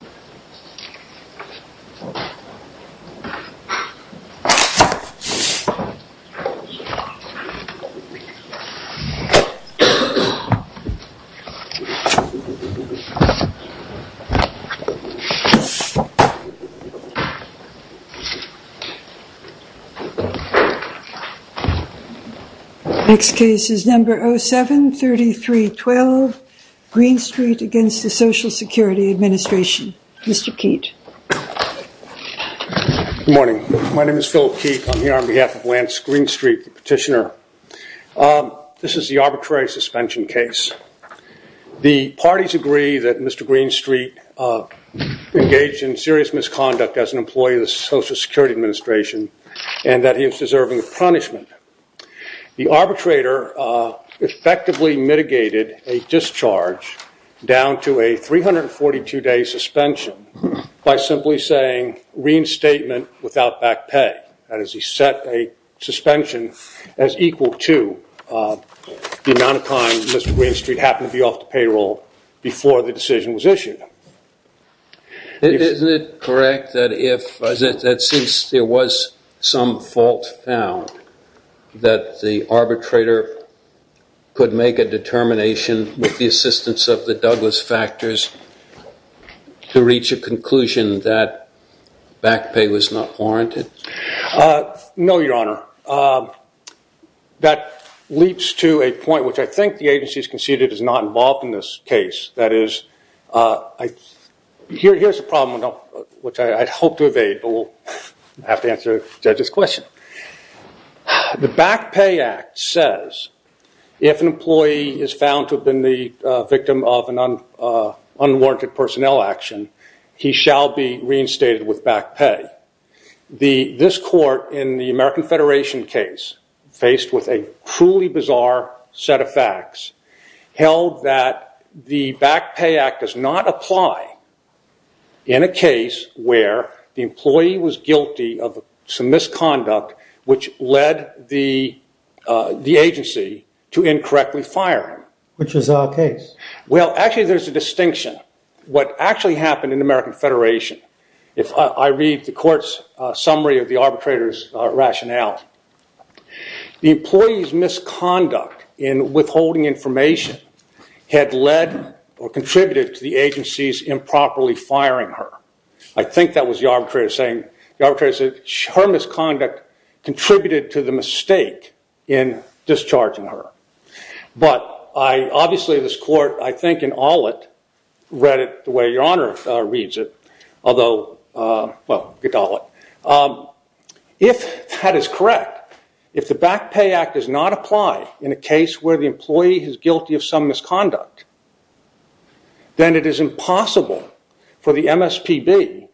07-3312 Greenstreet v. Social Security Administration Mr. Keet. Good morning. My name is Philip Keet. I'm here on behalf of Lance Greenstreet, the petitioner. This is the arbitrary suspension case. The parties agree that Mr. Greenstreet engaged in serious misconduct as an employee of the Social Security Administration and that he is deserving of suspension by simply saying reinstatement without back pay. That is, he set a suspension as equal to the amount of time Mr. Greenstreet happened to be off the payroll before the decision was issued. Isn't it correct that since there was some fault found that the arbitrator could make a determination with the assistance of the Douglas factors to reach a conclusion that back pay was not warranted? No, your honor. That leaps to a point which I think the agency is conceded is not involved in this case. That is, here's a problem which I hope to evade but we'll have to answer the judge's question. The Back Pay Act says if an employee is found to have been the victim of an unwarranted personnel action, he shall be reinstated with back pay. This court in the American Federation case, faced with a truly bizarre set of facts, held that the Back Pay Act does not apply in a case where the employee was guilty of some misconduct which led the agency to incorrectly fire him. Which is our case. Well, actually there's a distinction. What actually happened in the American Federation, if I read the court's summary of the arbitrator's rationale, the employee's misconduct in withholding information had led or contributed to the agency's improperly firing her. I think that was the arbitrator saying, her misconduct contributed to the mistake in discharging her. But, obviously this court, I think in all it, read it the way your honor reads it. Although, if that is correct, if the Back Pay Act does not apply in a case where the employee is guilty of some misconduct, then it is impossible for the MSPB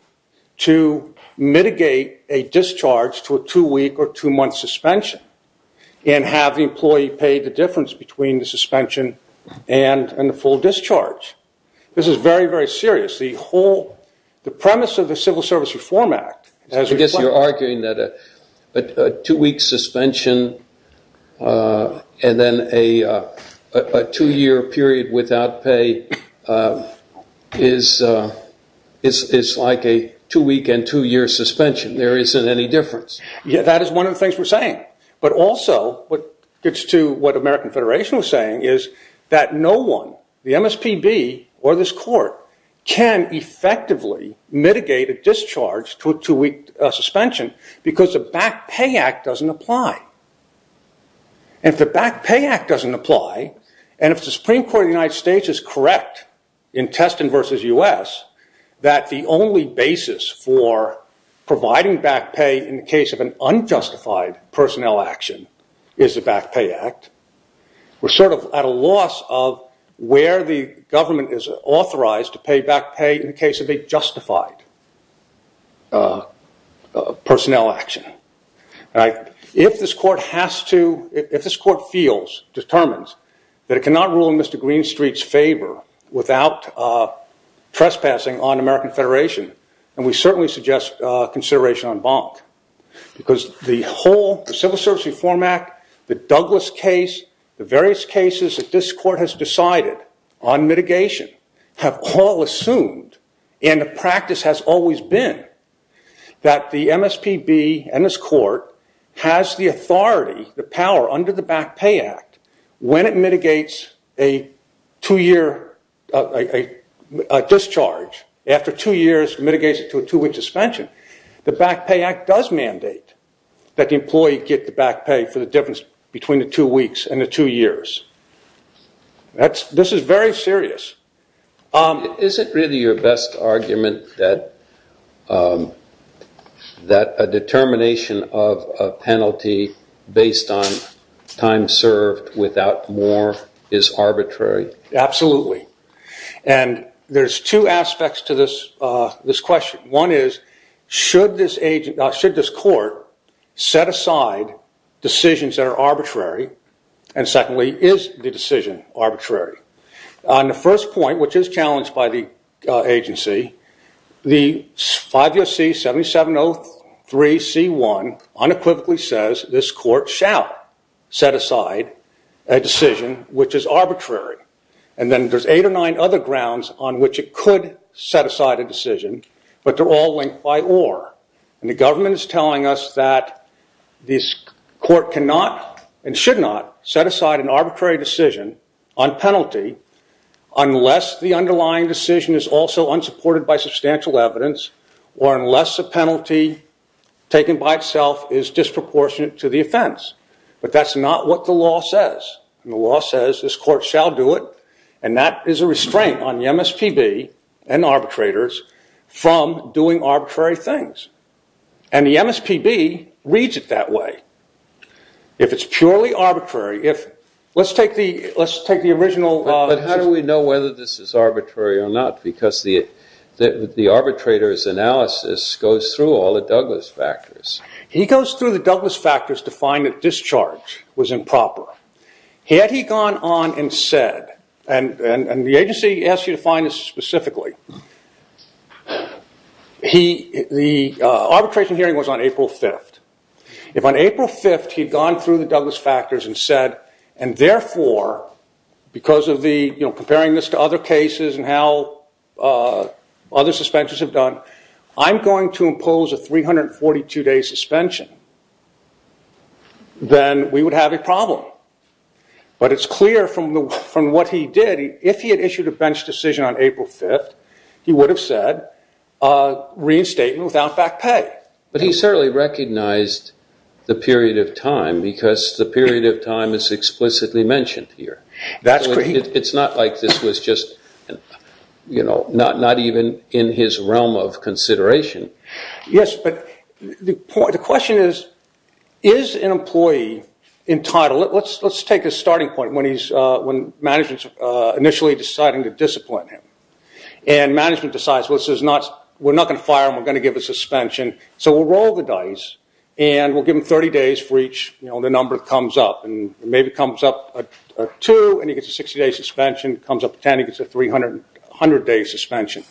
to mitigate a discharge to a two week or two month suspension and have the employee pay the difference between the suspension and the full discharge. This is very, very serious. The premise of the Civil Service Reform Act, as we've discussed. I guess you're arguing that a two week suspension and then a two year period without pay is like a two week and two year suspension. There isn't any difference. That is one of the things we're saying. But, also what gets to what the American Federation was saying is that no one, the MSPB or this court, can effectively mitigate a discharge to a two week suspension because the Back Pay Act doesn't apply. If the Back Pay Act doesn't apply and if the Supreme Court of the United States is correct in Teston versus U.S. that the only basis for providing back pay in the case of an unjustified personnel action is the Back Pay Act. We're sort of at a loss of where the government is authorized to pay back pay in the case of a justified personnel action. If this court feels, determines, that it cannot rule in Mr. Green Street's favor without trespassing on American Federation, then we certainly suggest consideration on Bonk. Because the whole Civil Service Reform Act, the Douglas case, the various cases that this court has decided on mitigation, have all assumed and the practice has always been that the MSPB and this court has the authority, the power under the Back Pay Act, when it mitigates a two year discharge, after two years mitigates it to a two week suspension, the Back Pay Act does mandate that the employee get the back pay for the difference between the two weeks and the two years. This is very serious. Is it really your best argument that a determination of a penalty based on time served without more is arbitrary? Absolutely. And there's two aspects to this question. One is should this court set aside decisions that are arbitrary and secondly is the decision arbitrary? On the first point, which is challenged by the agency, the 5 U.S.C. 7703C1 unequivocally says this court shall set aside a decision which is arbitrary. And then there's eight or nine other grounds on which it could set aside a decision, but they're all linked by or. And the government is telling us that this court cannot and should not set aside an arbitrary decision on penalty unless the underlying decision is also unsupported by substantial evidence or unless the penalty taken by itself is disproportionate to the offense. But that's not what the law says. And the law says this court shall do it and that is a restraint on the MSPB and arbitrators from doing arbitrary things. And the MSPB reads it that way. If it's purely arbitrary, let's take the original... But how do we know whether this is arbitrary or not? Because the arbitrator's analysis goes through all the Douglas factors. He goes through the Douglas factors to find that discharge was improper. Had he gone on and said, and the agency asks you to find this specifically, the arbitration hearing was on April 5th. If on April 5th he'd gone through the Douglas factors and said, and therefore, because of comparing this to other cases and how other suspensions have done, I'm going to impose a 342-day suspension, then we would have a problem. But it's clear from what he did, if he had issued a bench decision on April 5th, he would have said reinstatement without back pay. But he certainly recognized the period of time because the period of time is explicitly mentioned here. It's not like this was just not even in his realm of consideration. Yes, but the question is, is an employee entitled... Let's take a starting point when management's initially deciding to discipline him. And management decides, we're not going to fire him, we're going to give a suspension, so we'll roll the dice and we'll give him 30 days for each number that comes up. And maybe comes up two and he gets a 60-day suspension, comes up 10 and he gets a 300-day suspension.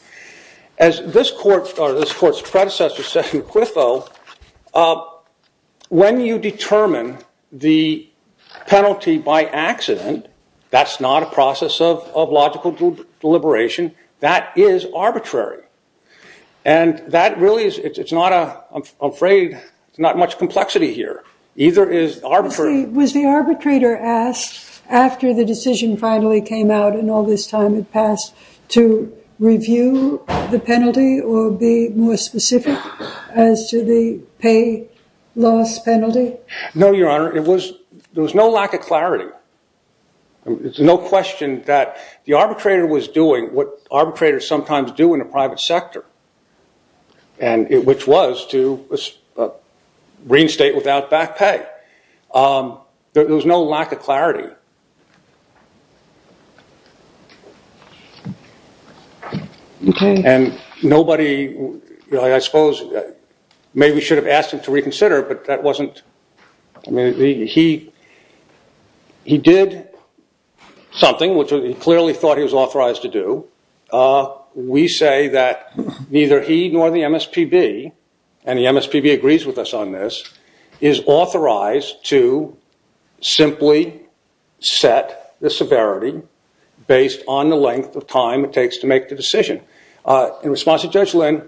As this court's predecessor said in Quiffo, when you determine the penalty by accident, that's not a process of logical deliberation, that is arbitrary. And that really is, it's not a, I'm afraid, it's not much complexity here. Was the arbitrator asked, after the decision finally came out and all this time had passed, to review the penalty or be more specific as to the pay loss penalty? No, Your Honor, there was no lack of clarity. It's no question that the arbitrator was doing what arbitrators sometimes do in a private sector, which was to reinstate without back pay. There was no lack of clarity. And nobody, I suppose, maybe should have asked him to reconsider, but that wasn't, he did something which he clearly thought he was authorized to do. We say that neither he nor the MSPB, and the MSPB agrees with us on this, is authorized to simply set the severity based on the length of time it takes to make the decision. In response to Judge Lynn,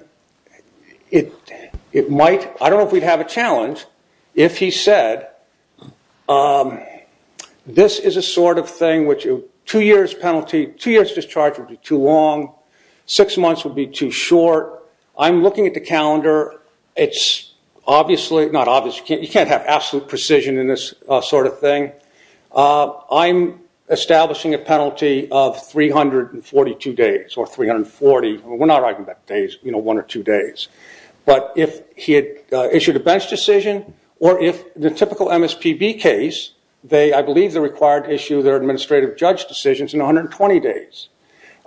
it might, I don't know if we'd have a challenge if he said, this is a sort of thing which two years penalty, two years discharge would be too long, six months would be too short. I'm looking at the calendar. It's obviously, not obviously, you can't have absolute precision in this sort of thing. I'm establishing a penalty of 342 days, or 340, we're not writing about days, you know, one or two days. But if he had issued a bench decision, or if the typical MSPB case, I believe they're required to issue their administrative judge decisions in 120 days.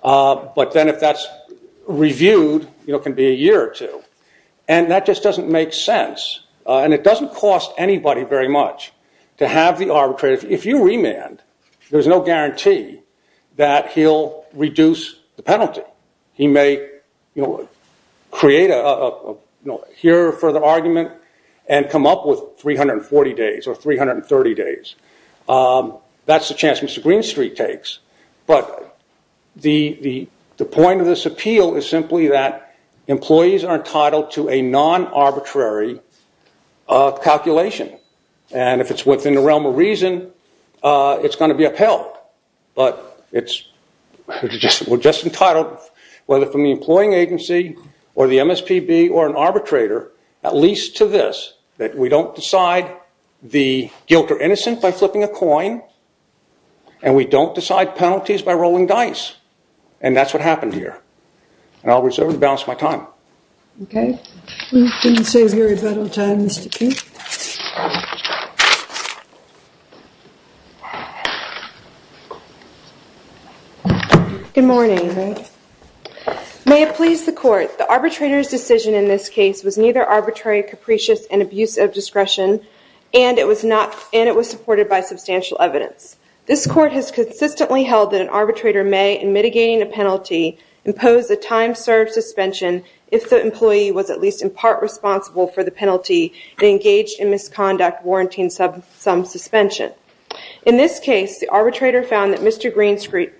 But then if that's reviewed, it can be a year or two. And that just doesn't make sense. And it doesn't cost anybody very much to have the arbitration. If you remand, there's no guarantee that he'll reduce the penalty. He may create a, you know, here for the argument and come up with 340 days or 330 days. That's the chance Mr. Greenstreet takes. But the point of this appeal is simply that employees are entitled to a non-arbitrary calculation. And if it's within the realm of reason, it's going to be upheld. But we're just entitled, whether from the employing agency or the MSPB or an arbitrator, at least to this, that we don't decide the guilt or innocence by flipping a coin, and we don't decide penalties by rolling dice. And that's what happened here. And I'll reserve and balance my time. Okay. Good morning. May it please the court, the arbitrator's decision in this case was neither arbitrary, capricious, and abuse of discretion, and it was supported by substantial evidence. This court has consistently held that an arbitrator may, in mitigating a penalty, impose a time-served suspension if the employee was at least in part responsible for the penalty and engaged in misconduct warranting some suspension. In this case, the arbitrator found that Mr. Greenstreet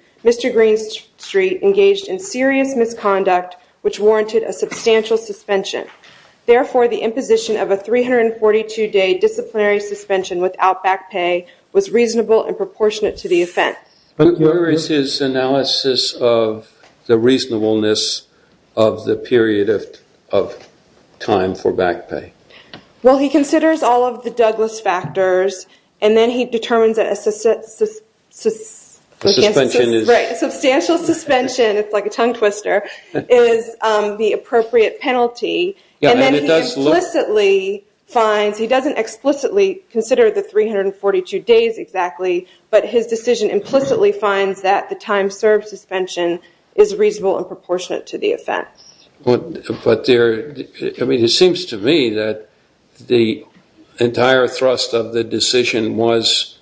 engaged in serious misconduct, which warranted a substantial suspension. Therefore, the imposition of a 342-day disciplinary suspension without back pay was reasonable and proportionate to the offense. Where is his analysis of the reasonableness of the period of time for back pay? Well, he considers all of the Douglas factors, and then he determines that a... A suspension is... Right, a substantial suspension, it's like a tongue twister, is the appropriate penalty. And then he explicitly finds, he doesn't explicitly consider the 342 days exactly, but his decision implicitly finds that the time-served suspension is reasonable and proportionate to the offense. But there... I mean, it seems to me that the entire thrust of the decision was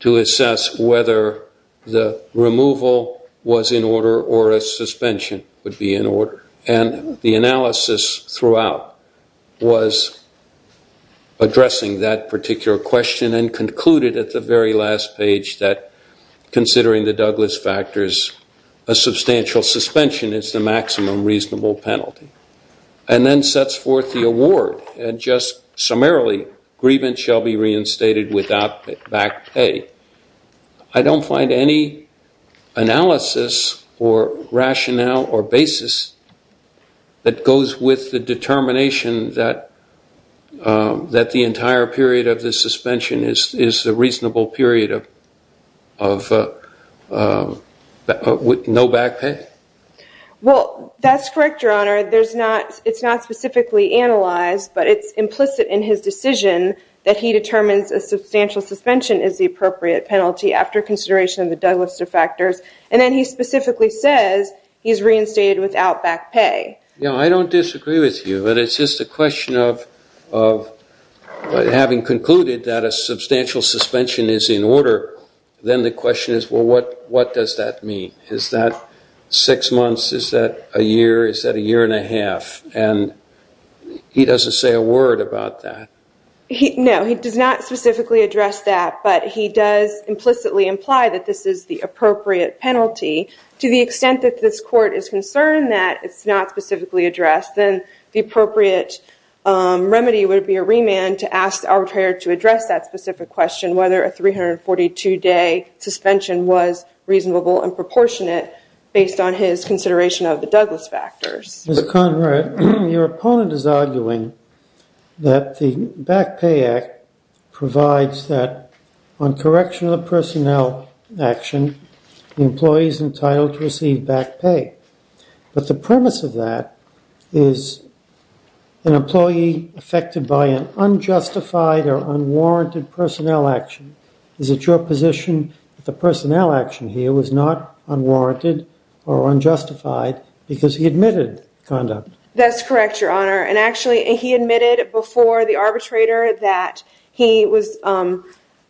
to assess whether the removal was in order or a suspension would be in order. And the analysis throughout was addressing that particular question and concluded at the very last page that, considering the Douglas factors, a substantial suspension is the maximum reasonable penalty. And then sets forth the award, and just summarily, grievance shall be reinstated without back pay. I don't find any analysis or rationale or basis that goes with the determination that... A substantial suspension is a reasonable period of... With no back pay? Well, that's correct, Your Honor. There's not... It's not specifically analyzed, but it's implicit in his decision that he determines a substantial suspension is the appropriate penalty after consideration of the Douglas factors. And then he specifically says he's reinstated without back pay. Yeah, I don't disagree with you, but it's just a question of having concluded that a substantial suspension is in order. Then the question is, well, what does that mean? Is that six months? Is that a year? Is that a year and a half? And he doesn't say a word about that. No, he does not specifically address that, but he does implicitly imply that this is the appropriate penalty To the extent that this court is concerned that it's not specifically addressed, then the appropriate remedy would be a remand to ask the arbitrator to address that specific question, whether a 342-day suspension was reasonable and proportionate based on his consideration of the Douglas factors. Ms. Conrad, your opponent is arguing that the Back Pay Act provides that on correction of personnel action, the employee is entitled to receive back pay. But the premise of that is an employee affected by an unjustified or unwarranted personnel action. Is it your position that the personnel action here was not unwarranted or unjustified because he admitted conduct? That's correct, Your Honor. And actually, he admitted before the arbitrator that he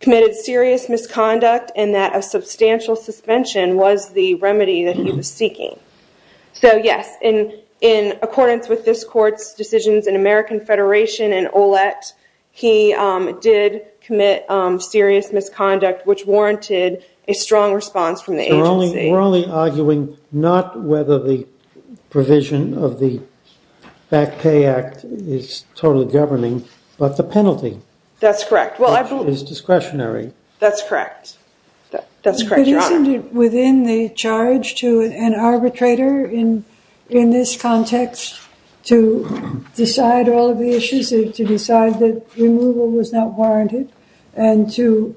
committed serious misconduct and that a substantial suspension was the remedy that he was seeking. So, yes, in accordance with this court's decisions in American Federation and OLEC, he did commit serious misconduct, which warranted a strong response from the agency. We're only arguing not whether the provision of the Back Pay Act is totally governing, but the penalty. That's correct. Which is discretionary. That's correct. That's correct, Your Honor. But isn't it within the charge to an arbitrator in this context to decide all of the issues, to decide that removal was not warranted, and to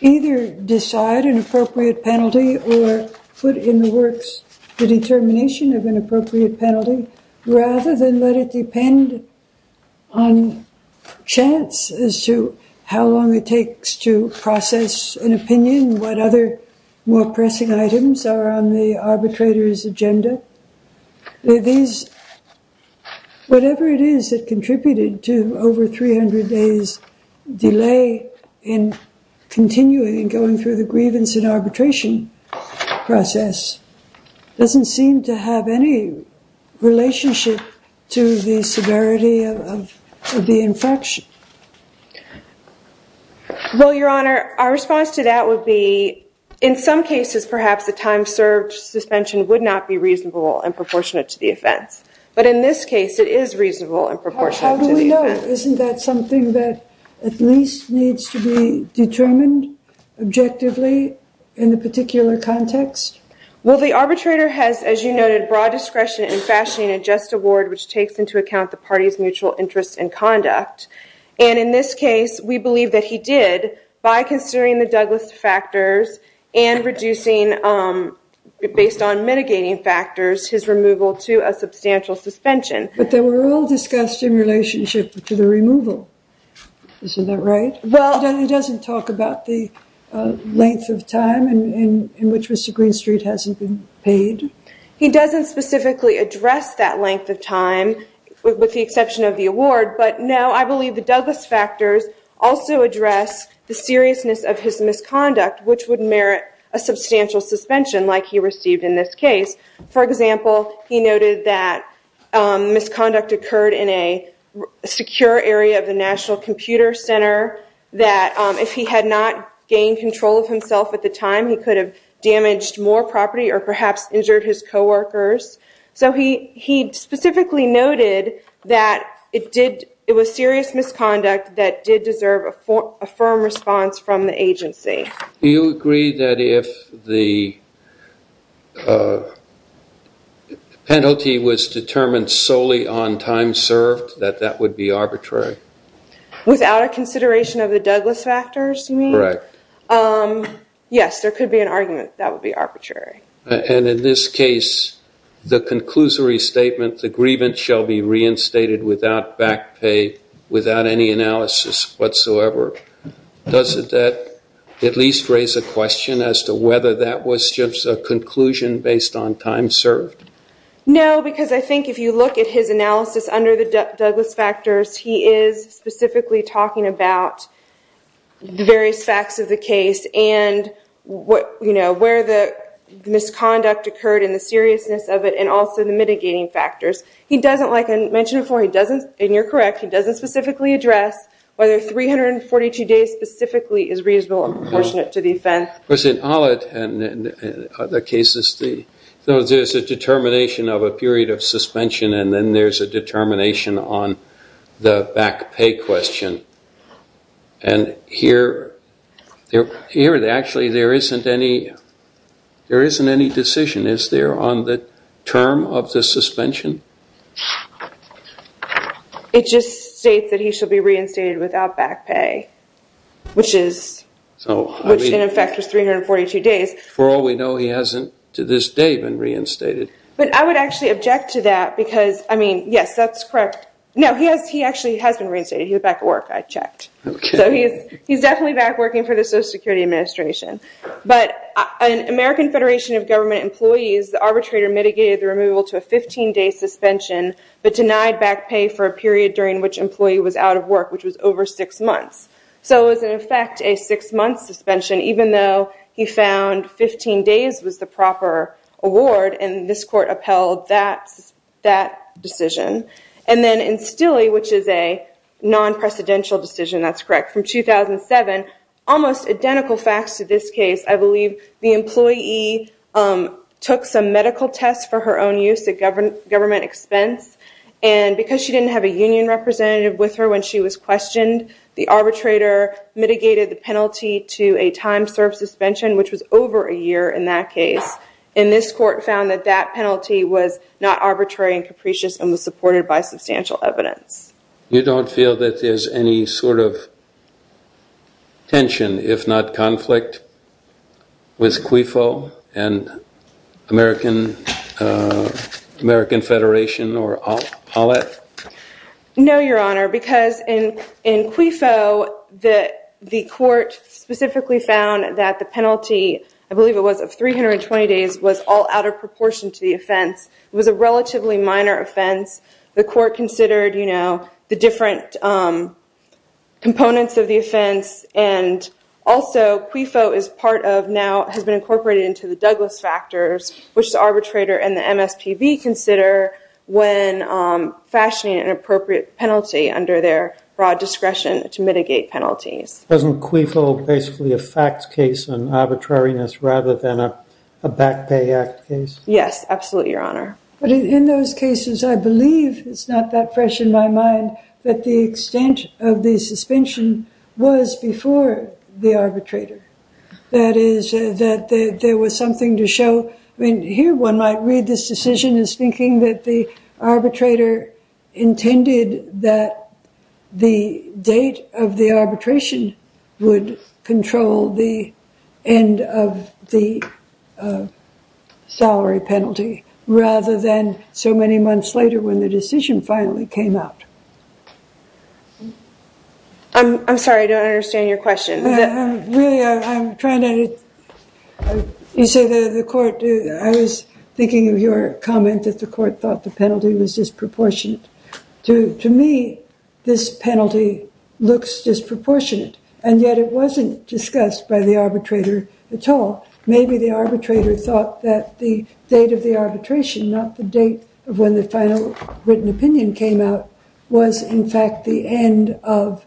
either decide an appropriate penalty or put in the works the determination of an appropriate penalty, rather than let it depend on chance as to how long it takes to process an opinion, what other more pressing items are on the arbitrator's agenda? Whatever it is that contributed to over 300 days delay in continuing, in going through the grievance and arbitration process, doesn't seem to have any relationship to the severity of the infraction. Well, Your Honor, our response to that would be, in some cases, perhaps the time served suspension would not be reasonable and proportionate to the offense. But in this case, it is reasonable and proportionate to the offense. Isn't that something that at least needs to be determined objectively in the particular context? Well, the arbitrator has, as you noted, broad discretion in fashioning a just award, which takes into account the party's mutual interest in conduct. And in this case, we believe that he did, by considering the Douglas factors and reducing, based on mitigating factors, his removal to a substantial suspension. But they were all discussed in relationship to the removal. Isn't that right? He doesn't talk about the length of time in which Mr. Greenstreet hasn't been paid? He doesn't specifically address that length of time, with the exception of the award. But no, I believe the Douglas factors also address the seriousness of his misconduct, which would merit a substantial suspension, like he received in this case. For example, he noted that misconduct occurred in a secure area of the National Computer Center, that if he had not gained control of himself at the time, he could have damaged more property or perhaps injured his co-workers. So he specifically noted that it was serious misconduct that did deserve a firm response from the agency. Do you agree that if the penalty was determined solely on time served, that that would be arbitrary? Without a consideration of the Douglas factors, you mean? Correct. Yes, there could be an argument that that would be arbitrary. And in this case, the conclusory statement, the grievance shall be reinstated without back pay, without any analysis whatsoever. Does that at least raise a question as to whether that was just a conclusion based on time served? No, because I think if you look at his analysis under the Douglas factors, he is specifically talking about the various facts of the case and where the misconduct occurred and the seriousness of it and also the mitigating factors. He doesn't, like I mentioned before, he doesn't, and you're correct, he doesn't specifically address whether 342 days specifically is reasonable and proportionate to the offense. But in other cases, there's a determination of a period of suspension and then there's a determination on the back pay question. And here, actually, there isn't any decision, is there, on the term of the suspension? It just states that he shall be reinstated without back pay, which in effect is 342 days. For all we know, he hasn't to this day been reinstated. But I would actually object to that because, I mean, yes, that's correct. No, he actually has been reinstated. He's back at work, I checked. So he's definitely back working for the Social Security Administration. But an American Federation of Government Employees, the arbitrator mitigated the removal to a 15-day suspension but denied back pay for a period during which employee was out of work, which was over six months. So it was, in effect, a six-month suspension, even though he found 15 days was the proper award and this court upheld that decision. And then in Stille, which is a non-precedential decision, that's correct, from 2007, almost identical facts to this case. I believe the employee took some medical tests for her own use at government expense and because she didn't have a union representative with her when she was questioned, the arbitrator mitigated the penalty to a time-served suspension, which was over a year in that case. And this court found that that penalty was not arbitrary and capricious and was supported by substantial evidence. You don't feel that there's any sort of tension, if not conflict, with QIFO and American Federation or OLEF? No, Your Honor, because in QIFO, the court specifically found that the penalty, I believe it was of 320 days, was all out of proportion to the offense. It was a relatively minor offense. The court considered, you know, the different components of the offense and also QIFO is part of, now has been incorporated into the Douglas factors, which the arbitrator and the MSPB consider when fashioning an appropriate penalty under their broad discretion to mitigate penalties. Wasn't QIFO basically a facts case on arbitrariness rather than a back pay act case? Yes, absolutely, Your Honor. But in those cases, I believe, it's not that fresh in my mind, that the extent of the suspension was before the arbitrator. That is, that there was something to show. I mean, here one might read this decision as thinking that the arbitrator intended that the date of the arbitration would control the end of the salary penalty rather than so many months later when the decision finally came out. I'm sorry, I don't understand your question. Really, I'm trying to, you say the court, I was thinking of your comment that the court thought the penalty was disproportionate. To me, this penalty looks disproportionate, and yet it wasn't discussed by the arbitrator at all. Maybe the arbitrator thought that the date of the arbitration, not the date of when the final written opinion came out, was in fact the end of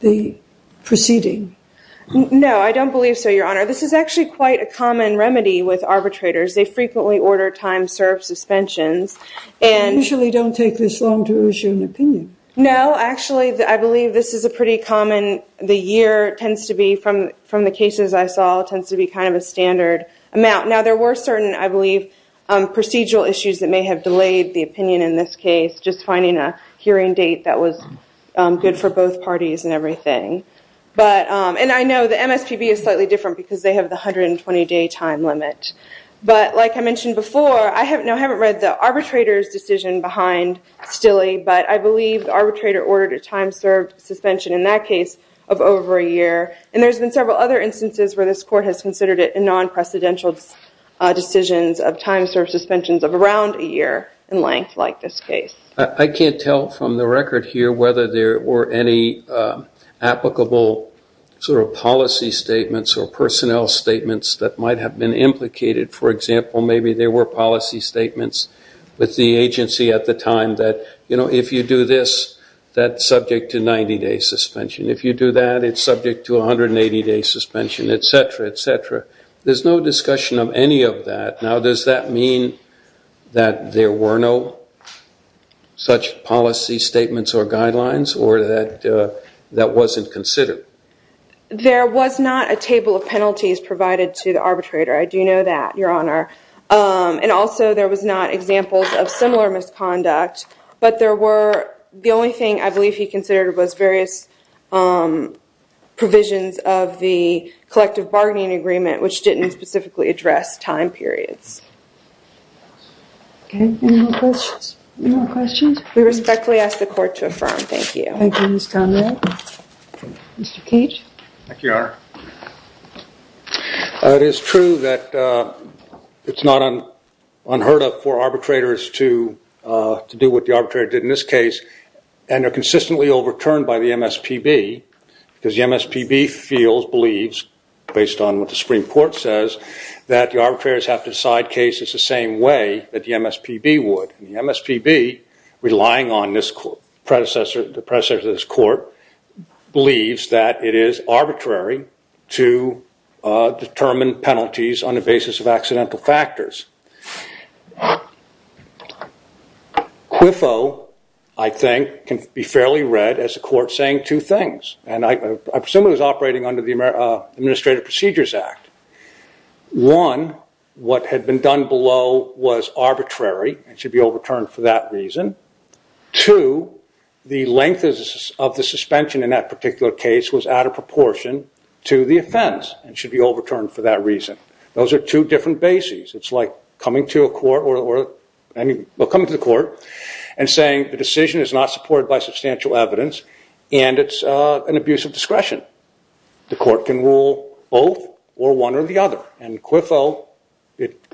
the proceeding. No, I don't believe so, Your Honor. This is actually quite a common remedy with arbitrators. They frequently order time served suspensions. They usually don't take this long to issue an opinion. No, actually, I believe this is a pretty common, the year tends to be, from the cases I saw, tends to be kind of a standard amount. Now, there were certain, I believe, procedural issues that may have delayed the opinion in this case, just finding a hearing date that was good for both parties and everything. And I know the MSPB is slightly different because they have the 120-day time limit. But like I mentioned before, I haven't read the arbitrator's decision behind Stille, but I believe the arbitrator ordered a time served suspension in that case of over a year. And there's been several other instances where this court has considered it a non-precedential decision of time served suspensions of around a year in length like this case. I can't tell from the record here whether there were any applicable sort of policy statements or personnel statements that might have been implicated. For example, maybe there were policy statements with the agency at the time that, you know, if you do this, that's subject to 90-day suspension. If you do that, it's subject to 180-day suspension, et cetera, et cetera. There's no discussion of any of that. Now, does that mean that there were no such policy statements or guidelines or that that wasn't considered? There was not a table of penalties provided to the arbitrator. I do know that, Your Honor. And also, there was not examples of similar misconduct. But the only thing I believe he considered was various provisions of the collective bargaining agreement, which didn't specifically address time periods. Any more questions? We respectfully ask the court to affirm. Thank you. Thank you, Ms. Conrad. Mr. Cage? Thank you, Your Honor. It is true that it's not unheard of for arbitrators to do what the arbitrator did in this case, and they're consistently overturned by the MSPB because the MSPB feels, believes, based on what the Supreme Court says, that the arbitrators have to decide cases the same way that the MSPB would. And the MSPB, relying on the predecessor of this court, believes that it is arbitrary to determine penalties on the basis of accidental factors. Quiffo, I think, can be fairly read as a court saying two things, and I presume it was operating under the Administrative Procedures Act. One, what had been done below was arbitrary and should be overturned for that reason. Two, the length of the suspension in that particular case was out of proportion to the offense and should be overturned for that reason. Those are two different bases. It's like coming to a court or coming to the court and saying the decision is not supported by substantial evidence and it's an abuse of discretion. The court can rule both or one or the other. And Quiffo,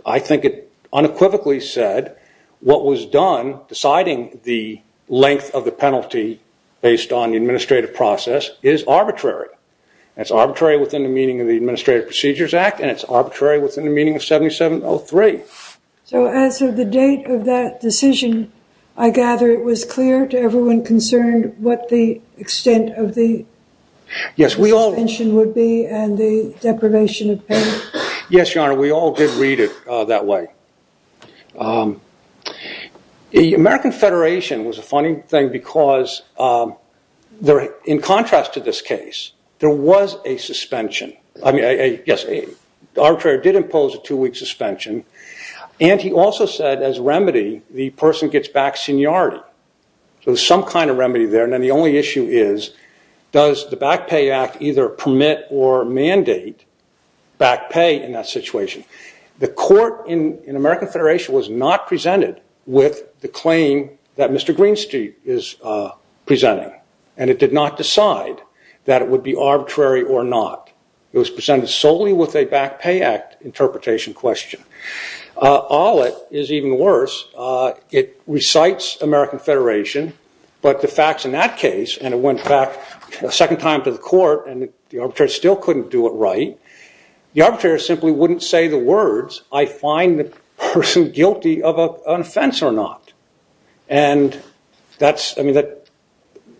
I think it unequivocally said what was done, deciding the length of the penalty based on the administrative process, is arbitrary. It's arbitrary within the meaning of the Administrative Procedures Act and it's arbitrary within the meaning of 7703. So as of the date of that decision, I gather it was clear to everyone concerned what the extent of the... Yes, we all... Suspension would be and the deprivation of payment. Yes, Your Honor, we all did read it that way. The American Federation was a funny thing because in contrast to this case, there was a suspension. I mean, yes, arbitrary did impose a two-week suspension and he also said as remedy the person gets back seniority. So there's some kind of remedy there. And then the only issue is, does the Back Pay Act either permit or mandate back pay in that situation? The court in American Federation was not presented with the claim that Mr. Greenstreet is presenting and it did not decide that it would be arbitrary or not. It was presented solely with a Back Pay Act interpretation question. All it is even worse, it recites American Federation but the facts in that case and it went back a second time to the court and the arbitrator still couldn't do it right. The arbitrator simply wouldn't say the words, I find the person guilty of an offense or not. And that's, I mean,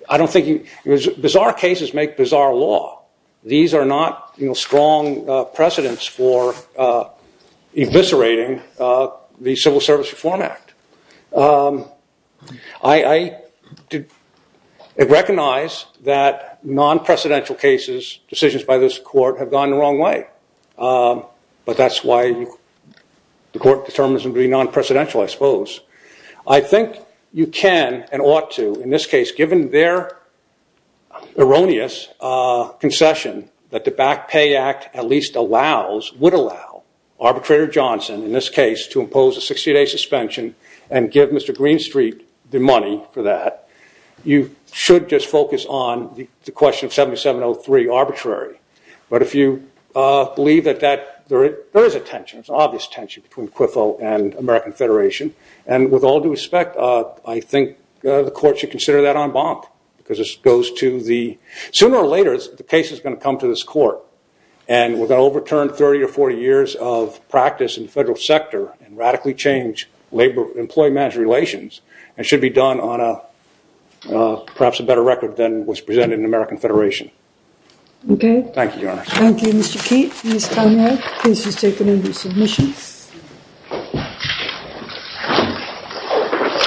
I don't think... Bizarre cases make bizarre law. These are not strong precedents for eviscerating the Civil Service Reform Act. I recognize that non-precedential cases, decisions by this court, have gone the wrong way. But that's why the court determines them to be non-precedential, I suppose. I think you can and ought to, in this case, given their erroneous concession that the Back Pay Act at least allows, would allow, arbitrator Johnson, in this case, to impose a 60-day suspension and give Mr. Greenstreet the money for that. You should just focus on the question of 7703, arbitrary. But if you believe that there is a tension, there's an obvious tension between Quiffo and American Federation. And with all due respect, I think the court should consider that en banc because this goes to the... Sooner or later, the case is going to come to this court and with an overturned 30 or 40 years of practice in the federal sector and radically changed employee management relations, it should be done on perhaps a better record than was presented in American Federation. Okay. Thank you, Your Honor. Thank you, Mr. Keat, Ms. Conrad. Case is taken under submissions.